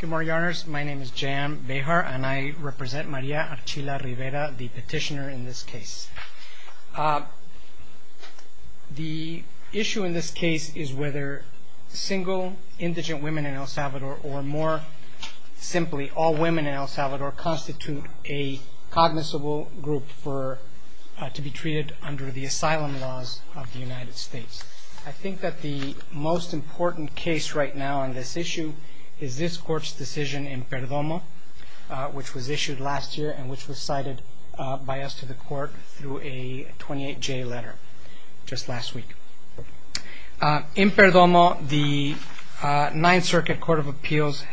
Good morning, Honors. My name is J.M. Bejar and I represent Maria Archila-Rivera, the petitioner in this case. The issue in this case is whether single indigent women in El Salvador or more simply all women in El Salvador constitute a cognizable group to be treated under the asylum laws of the United States. I think that the most important case right now on this issue is this court's decision in Perdomo, which was issued last year and which was cited by us to the court through a 28-J letter just last week. In Perdomo, the Ninth Circuit Court of Appeals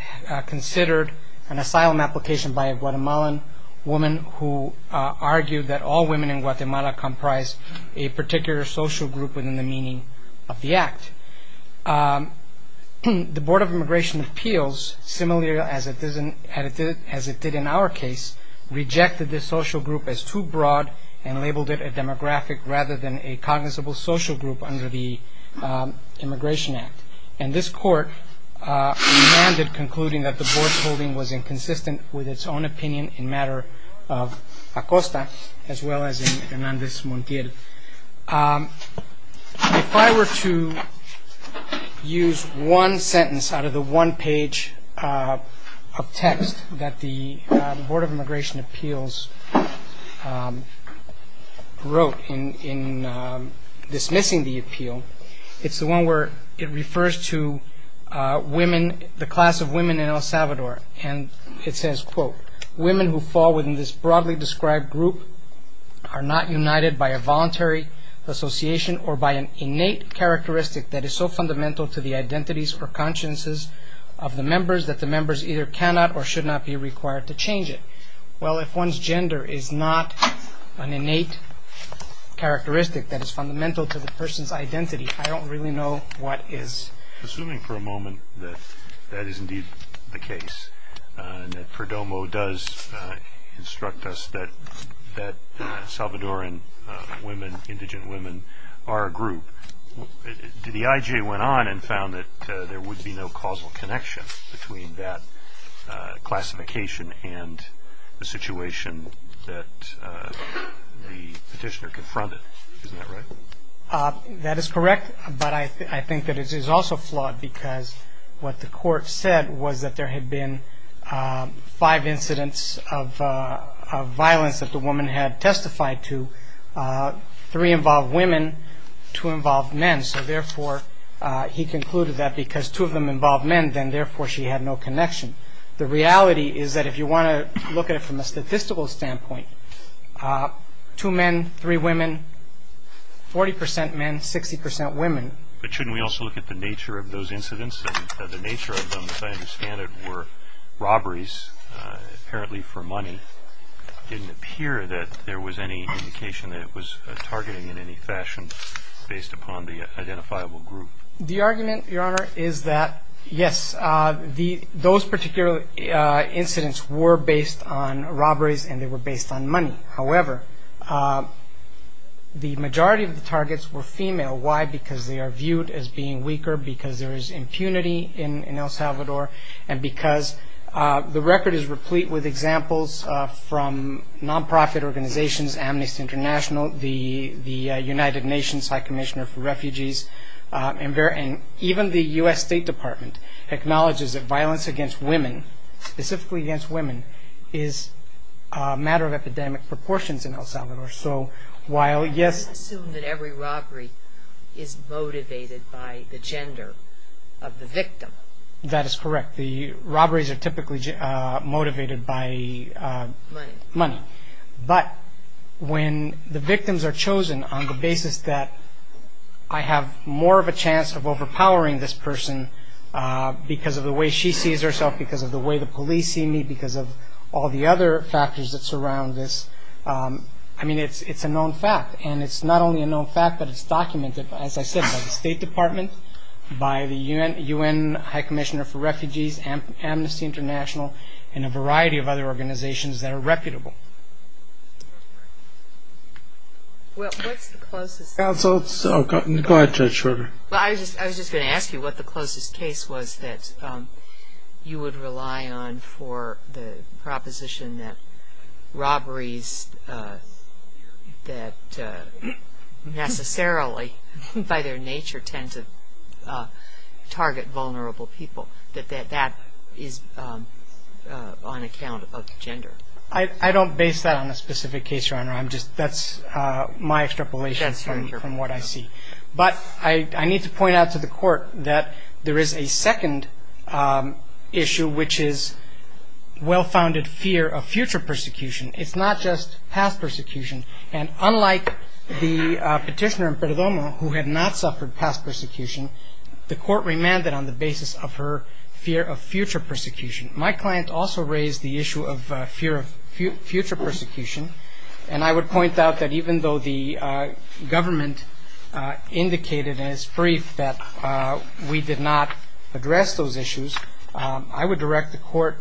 considered an asylum application by a Guatemalan woman who argued that all women in Guatemala comprise a particular social group within the meaning of the act. The Board of Immigration Appeals, similarly as it did in our case, rejected this social group as too broad and labeled it a demographic rather than a cognizable social group under the Immigration Act. And this court remanded concluding that the Board's holding was inconsistent with its own opinion in matter of Acosta as well as in Hernandez-Montiel. If I were to use one sentence out of the one page of text that the Board of Immigration Appeals wrote in dismissing the appeal, it's the one where it refers to the class of women in El Salvador and it says, quote, women who fall within this broadly described group are not united by a voluntary association or by an innate characteristic that is so fundamental to the identities or consciences of the members that the members either cannot or should not be required to change it. Well, if one's gender is not an innate characteristic that is fundamental to the person's identity, I don't really know what is. Assuming for a moment that that is indeed the case, that Perdomo does instruct us that Salvadoran women, indigent women, are a group, the IJ went on and found that there would be no causal connection between that classification and the situation that the petitioner confronted. Isn't that right? That is correct, but I think that it is also flawed because what the court said was that there had been five incidents of violence that the woman had testified to. Three involved women, two involved men, so therefore he concluded that because two of them involved men, then therefore she had no connection. The reality is that if you want to look at it from a statistical standpoint, two men, three women, 40 percent men, 60 percent women. But shouldn't we also look at the nature of those incidents? The nature of them, as I understand it, were robberies, apparently for money. It didn't appear that there was any indication that it was targeting in any fashion based upon the identifiable group. The argument, Your Honor, is that yes, those particular incidents were based on robberies and they were based on money. However, the majority of the targets were female. Why? Because they are viewed as being weaker, because there is impunity in El Salvador, and because the record is replete with examples from non-profit organizations, Amnesty International, the United Nations High Commissioner for Refugees, and even the U.S. State Department acknowledges that violence against women, specifically against women, is a matter of epidemic proportions in El Salvador. I assume that every robbery is motivated by the gender of the victim. That is correct. The robberies are typically motivated by money. But when the victims are chosen on the basis that I have more of a chance of overpowering this person because of the way she sees herself, because of the way the police see me, because of all the other factors that surround this, I mean, it's a known fact. And it's not only a known fact, but it's documented, as I said, by the State Department, by the U.N. High Commissioner for Refugees, Amnesty International, and a variety of other organizations that are reputable. Well, I was just going to ask you what the closest case was that you would rely on for the proposition that robberies that necessarily, by their nature, tend to target vulnerable people, that that is on account of gender. I don't base that on a specific case, Your Honor. That's my extrapolation from what I see. But I need to point out to the Court that there is a second issue, which is the well-founded fear of future persecution. It's not just past persecution. And unlike the petitioner in Perdomo, who had not suffered past persecution, the Court remanded on the basis of her fear of future persecution. My client also raised the issue of fear of future persecution. And I would point out that even though the government indicated as brief that we did not address those issues, I would direct the Court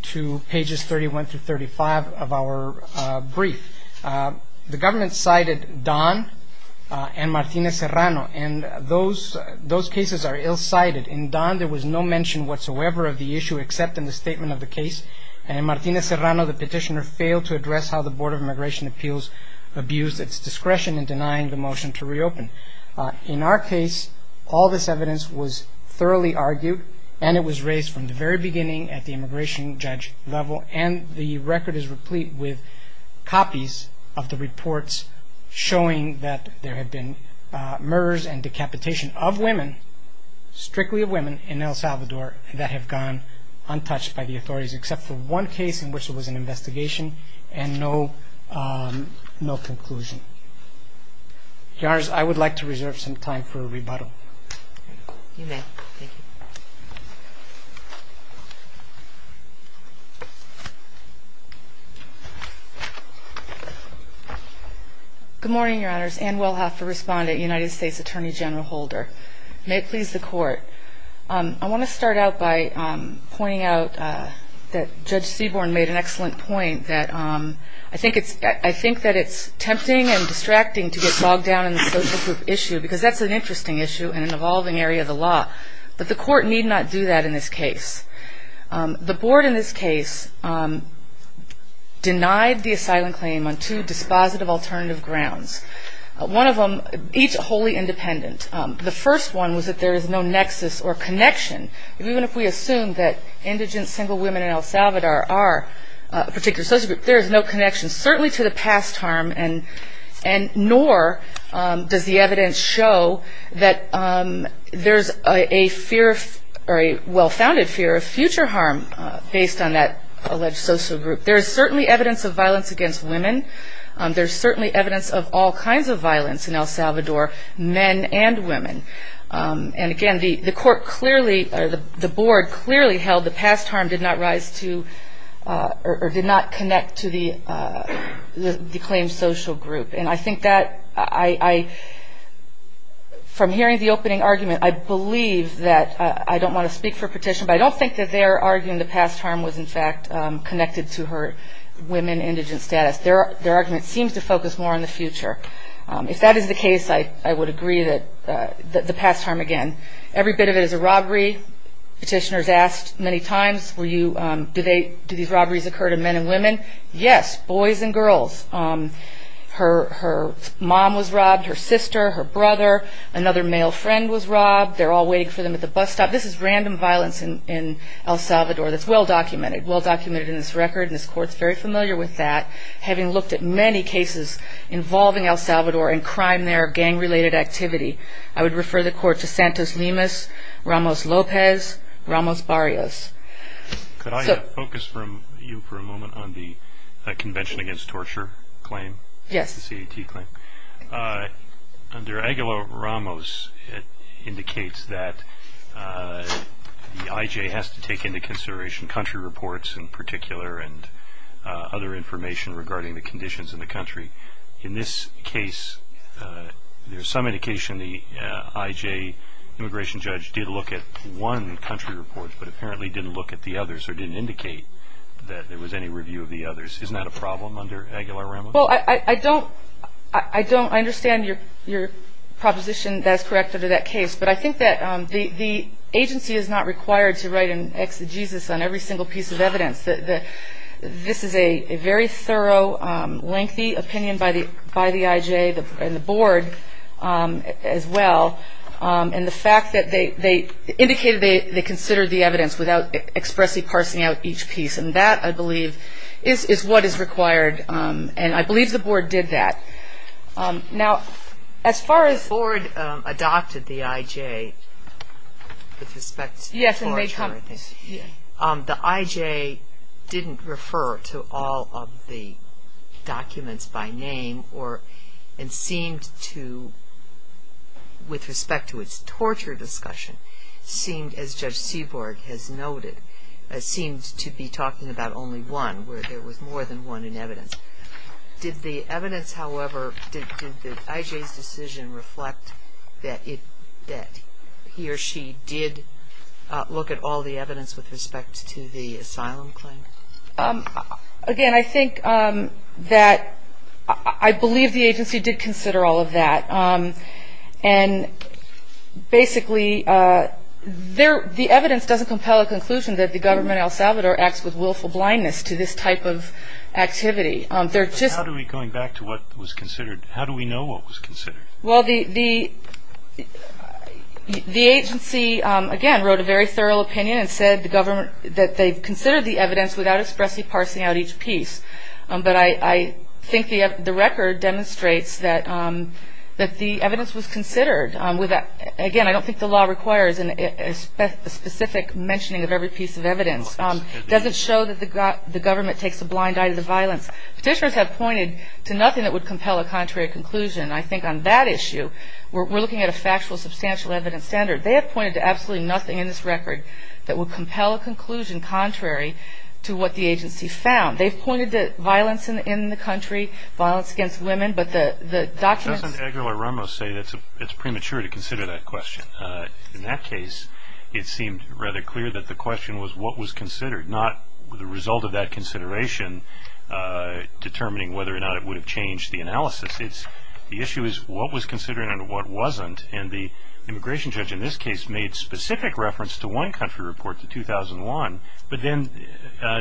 to pages 31 through 35 of our brief. The government cited Don and Martinez-Serrano. And those cases are ill-cited. In Don, there was no mention whatsoever of the issue, except in the statement of the case. And in Martinez-Serrano, the petitioner failed to address how the Board of Immigration Appeals abused its discretion in denying the motion to reopen. In our case, all this evidence was thoroughly argued. And it was raised from the very beginning at the immigration judge level. And the record is replete with copies of the reports showing that there have been murders and decapitation of women, strictly of women, in El Salvador that have gone untouched by the authorities, except for one case in which there was an investigation and no conclusion. Your Honors, I would like to reserve some time for rebuttal. You may. Thank you. Good morning, Your Honors. Ann Wilhoff, the respondent, United States Attorney General Holder. May it please the Court. I want to start out by pointing out that Judge Seaborn made an interesting point. It's tempting and distracting to get bogged down in the social group issue, because that's an interesting issue in an evolving area of the law. But the Court need not do that in this case. The Board in this case denied the asylum claim on two dispositive alternative grounds. One of them, each wholly independent. The first one was that there is no nexus or connection. Even if we assume that indigent single women in El Salvador are a particular social group, there is no connection, certainly to the past harm, nor does the evidence show that there is a well-founded fear of future harm based on that alleged social group. There is certainly evidence of violence against women. There is certainly evidence of all kinds of violence in El Salvador, men and women. And again, the Court clearly, the Board clearly held the past harm did not rise to, or did not connect to the claimed social group. And I think that I, from hearing the opening argument, I believe that, I don't want to speak for petition, but I don't think that they're arguing the past harm was in fact connected to her women indigent status. Their argument seems to focus more on the future. If that is the case, I would agree that the past harm, again, every bit of it is a robbery. Petitioners asked many times, were you, do these robberies occur to men and women? Yes, boys and girls. Her mom was robbed, her sister, her brother, another male friend was robbed. They're all waiting for them at the bus stop. This is random violence in El Salvador that's well-documented, well-documented in this record, and this Court's very familiar with that, having looked at many cases involving El Salvador in crime there, gang-related activity. I would refer the Court to Santos-Limas, Ramos-Lopez, Ramos-Barrios. Could I focus from you for a moment on the Convention Against Torture claim, the C.A.T. claim? Under Aguilar-Ramos, it indicates that the I.J. has to take into consideration country reports in particular, and other information regarding the conditions in the country. In this case, there's some indication the I.J. immigration judge did look at one country report, but apparently didn't look at the others, or didn't indicate that there was any review of the others. Isn't that a problem under Aguilar-Ramos? Well, I don't, I don't, I understand your proposition that's correct under that case, but I think that the agency is not required to write an exegesis on every single piece of evidence. This is a very thorough, lengthy opinion by the I.J. and the Board as well, and the fact that they indicated they considered the evidence without expressly parsing out each piece, and that, I believe, is what is required, and I believe the Board did that. Now as far as The Board adopted the I.J. with respect to torture, I think. The I.J. didn't refer to all of the documents by name, or, and seemed to, with respect to its torture discussion, seemed, as Judge Seaborg has noted, seemed to be talking about only one, where there was more than one in evidence. Did the evidence, however, did the I.J.'s decision reflect that he or she did look at all the evidence with respect to the asylum claim? Again, I think that, I believe the agency did consider all of that, and basically, the evidence doesn't compel a conclusion that the government at El Salvador acts with willful blindness to this type of activity. But how do we, going back to what was considered, how do we know what was considered? Well, the agency, again, wrote a very thorough opinion and said the government, that they considered the evidence without expressly parsing out each piece. But I think the record demonstrates that the evidence was considered. Again, I don't think the law requires a specific mentioning of every piece of evidence. It doesn't show that the government takes a blind eye to the violence. Petitioners have pointed to nothing that would compel a contrary conclusion. I think on that issue, we're looking at a factual, substantial evidence standard. They have pointed to absolutely nothing in this record that would compel a conclusion contrary to what the agency found. They've pointed to violence in the country, violence against women, but the documents... Doesn't Aguilar-Ramos say it's premature to consider that question? In that case, it seemed rather clear that the question was what was considered, not the result of that The issue is what was considered and what wasn't. And the immigration judge in this case made specific reference to one country report, the 2001, but then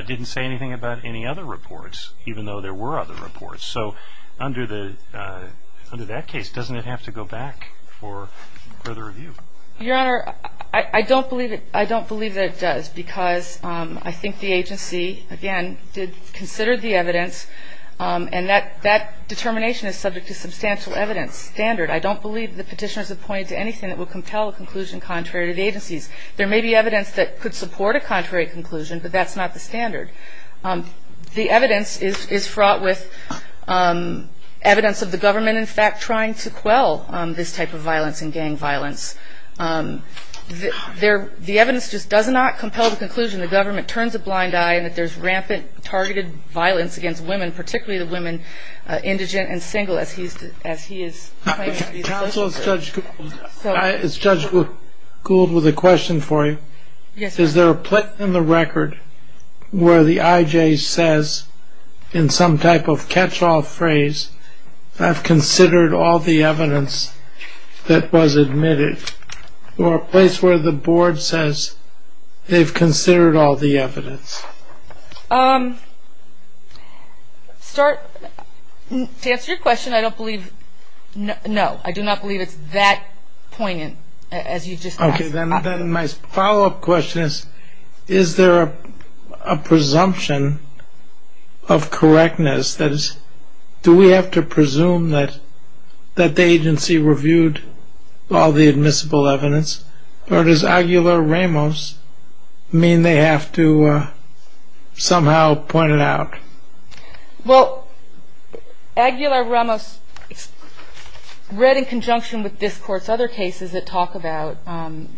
didn't say anything about any other reports, even though there were other reports. So under that case, doesn't it have to go back for further review? Your Honor, I don't believe that it does, because I think the agency, again, did consider the evidence, and that determination is subject to substantial evidence standard. I don't believe that the petitioners have pointed to anything that would compel a conclusion contrary to the agency's. There may be evidence that could support a contrary conclusion, but that's not the standard. The evidence is fraught with evidence of the government, in fact, trying to quell this type of violence and gang violence. The evidence just does not compel the conclusion that the government turns a blind eye and that there's rampant targeted violence against women, particularly the women, indigent and single, as he is claiming. Counsel, has Judge Gould with a question for you? Yes. Is there a place in the record where the IJ says, in some type of catch-all phrase, I've considered all the evidence that was admitted? Or a place where the board says they've considered all the evidence? To answer your question, I don't believe, no. I do not believe it's that poignant, as you just asked. Okay. Then my follow-up question is, is there a presumption of correctness? That is, do we have to presume that the agency reviewed all the admissible evidence? Or does Aguilar Ramos mean they have to somehow point it out? Well, Aguilar Ramos read in conjunction with this Court's other cases that talk about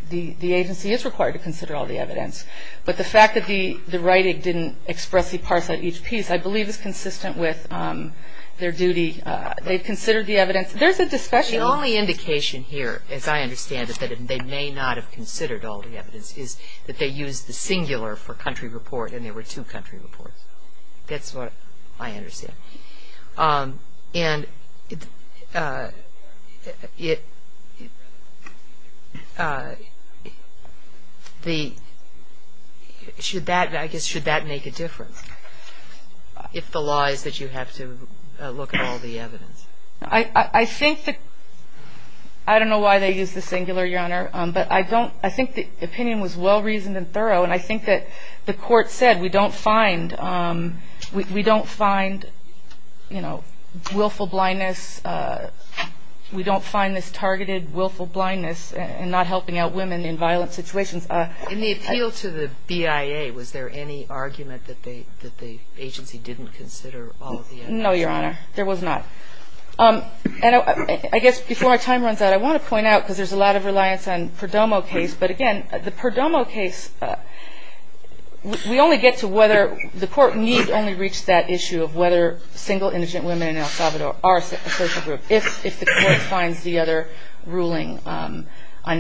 the agency is required to consider all the evidence. But the fact that the writing didn't expressly parse out each piece, I believe, is consistent with their duty. They've considered the evidence. There's a discussion. The only indication here, as I understand it, that they may not have considered all the evidence is that they used the singular for country report, and there were two country reports. That's what I understand. And it, the, should that, I guess, should that make a difference, if the law is that you have to look at all the evidence? I think that, I don't know why they used the singular, Your Honor. But I don't, I think the opinion was well-reasoned and thorough. And I think that the Court said we don't find, we don't find, you know, willful blindness, we don't find this targeted willful blindness in not helping out women in violent situations. In the appeal to the BIA, was there any argument that they, that the agency didn't consider all of the evidence? No, Your Honor. There was not. And I guess before our time runs out, I want to point out, because there's a lot of reliance on Perdomo case, but again, the Perdomo case, we only get to whether, the Court needs only reach that issue of whether single indigent women in El Salvador are a social group, if the Court finds the other ruling on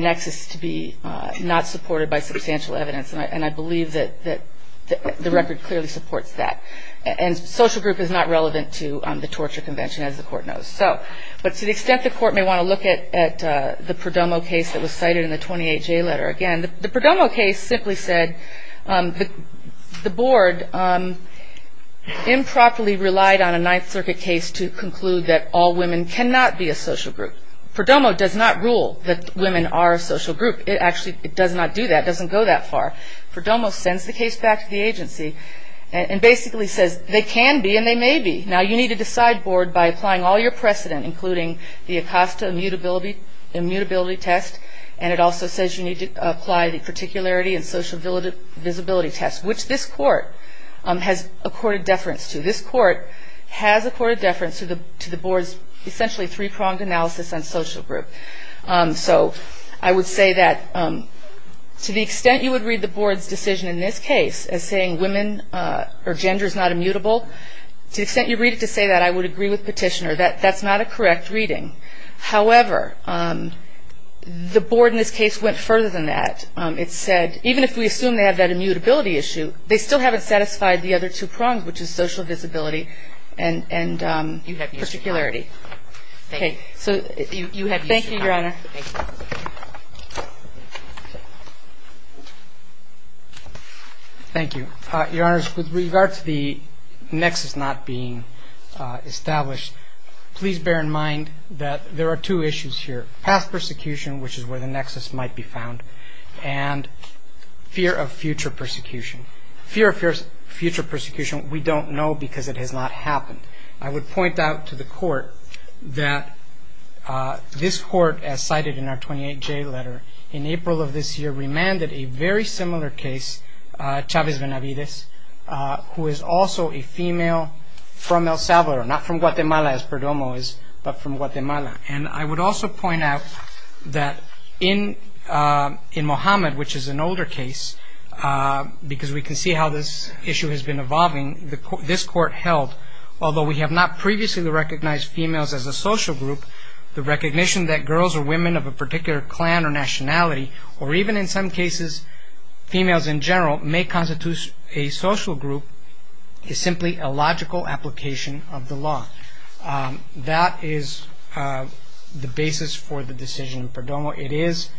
nexus to be not supported by substantial evidence. And I believe that the record clearly supports that. And social group is not relevant to the torture convention, as the Court knows. So, but to the extent the Court may want to look at the Perdomo case that was cited in the 28-J letter, again, the Perdomo case simply said the Board improperly relied on a Ninth Circuit case to conclude that all women cannot be a social group. Perdomo does not rule that women are a social group. It actually, it does not do that. It doesn't go that far. Perdomo sends the case back to the agency and basically says, they can be and they may be. Now you need to decide, Board, by applying all your precedent, including the Acosta immutability test, and it also says you need to apply the particularity and social visibility test, which this Court has accorded deference to. This Court has accorded deference to the Board's essentially three-pronged analysis on social group. So I would say that to the extent you would read the Board's decision in this case as saying women or gender is not immutable, to the extent you read it to say that, I would agree with Petitioner. That's not a correct reading. However, the Board in this case went further than that. It said, even if we assume they have that immutability issue, they still haven't satisfied the other two prongs, which is social visibility and particularity. You have used your time. Thank you, Your Honor. Thank you. Thank you. Your Honor, with regard to the nexus not being established, please bear in mind that there are two issues here, past persecution, which is where the nexus might be found, and fear of future persecution. Fear of future persecution, we don't know because it has not happened. I would point out to the Court that this Court, as cited in our 28J letter in April of this year, remanded a very similar case, Chavez Benavides, who is also a female from El Salvador, not from Guatemala, as Perdomo is, but from Guatemala. And I would also point out that in Mohammed, which is an older case, because we can see how this issue has been evolving, this Court held, although we have not previously recognized females as a social group, the recognition that girls or women of a particular clan or nationality, or even in some cases females in general, may constitute a social group is simply a logical application of the law. That is the basis for the decision in Perdomo. It is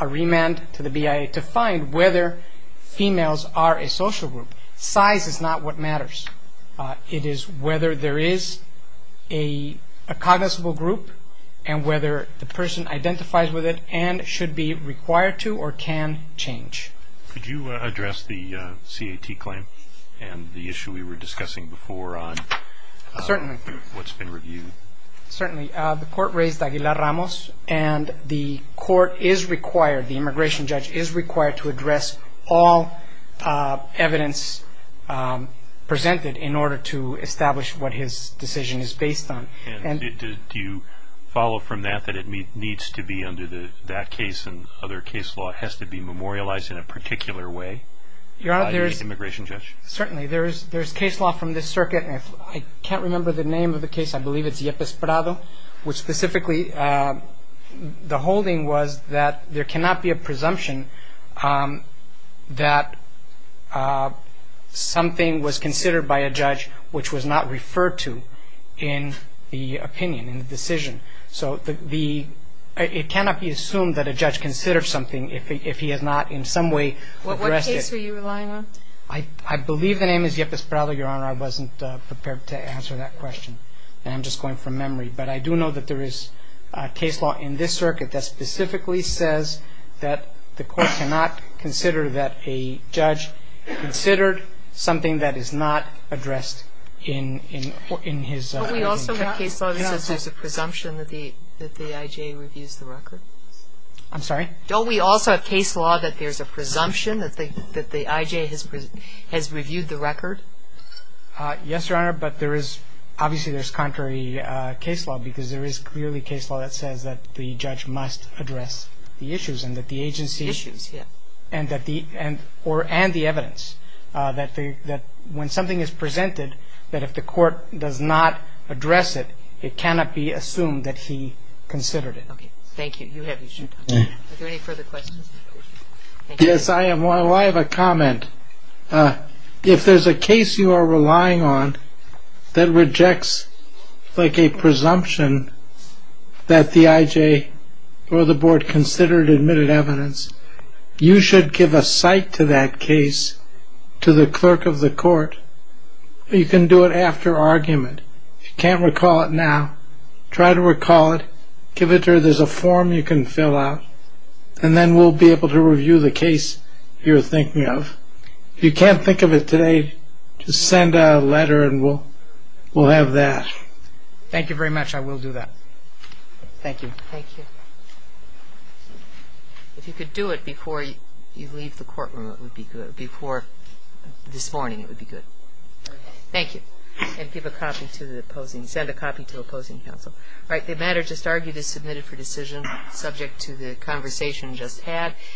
a remand to the BIA to find whether females are a social group. Size is not what group, and whether the person identifies with it and should be required to or can change. Could you address the CAT claim and the issue we were discussing before on what's been reviewed? Certainly. The Court raised Aguilar-Ramos, and the Court is required, the immigration judge is required to address all evidence presented in order to establish what his decision is based on. Do you follow from that that it needs to be, under that case and other case law, it has to be memorialized in a particular way? Certainly. There is case law from this circuit, and I can't remember the name of the case, I believe it's Yepes Prado, which specifically the holding was that there cannot be a presumption that something was considered by a judge which was not referred to in the opinion, in the decision. So it cannot be assumed that a judge considered something if he has not in some way addressed it. What case were you relying on? I believe the name is Yepes Prado, Your Honor, I wasn't prepared to answer that question. I'm just going from memory. But I do know that there is case law in this circuit that specifically says that the Court cannot consider that a judge considered something that is not addressed in his opinion. Don't we also have case law that says there's a presumption that the I.J. reviews the record? I'm sorry? Don't we also have case law that there's a presumption that the I.J. has reviewed the record? Yes, Your Honor, but there is obviously there's contrary case law because there is clearly case law that says that the when something is presented that if the Court does not address it, it cannot be assumed that he considered it. Okay, thank you. You have your time. Are there any further questions? Yes, I have a comment. If there's a case you are relying on that rejects like a presumption that the I.J. or the Board considered admitted evidence, you should give a cite to that case to the clerk of the Court. You can do it after argument. If you can't recall it now, try to recall it. Give it to her. There's a form you can fill out, and then we'll be able to review the case you're thinking of. If you can't think of it today, just send a letter and we'll have that. Thank you very much. I will do that. Thank you. If you could do it before you leave the courtroom, it would be good. Before this morning, it would be good. Thank you. And give a copy to the opposing, send a copy to the opposing counsel. All right, the matter just argued is submitted for decision subject to the conversation just had.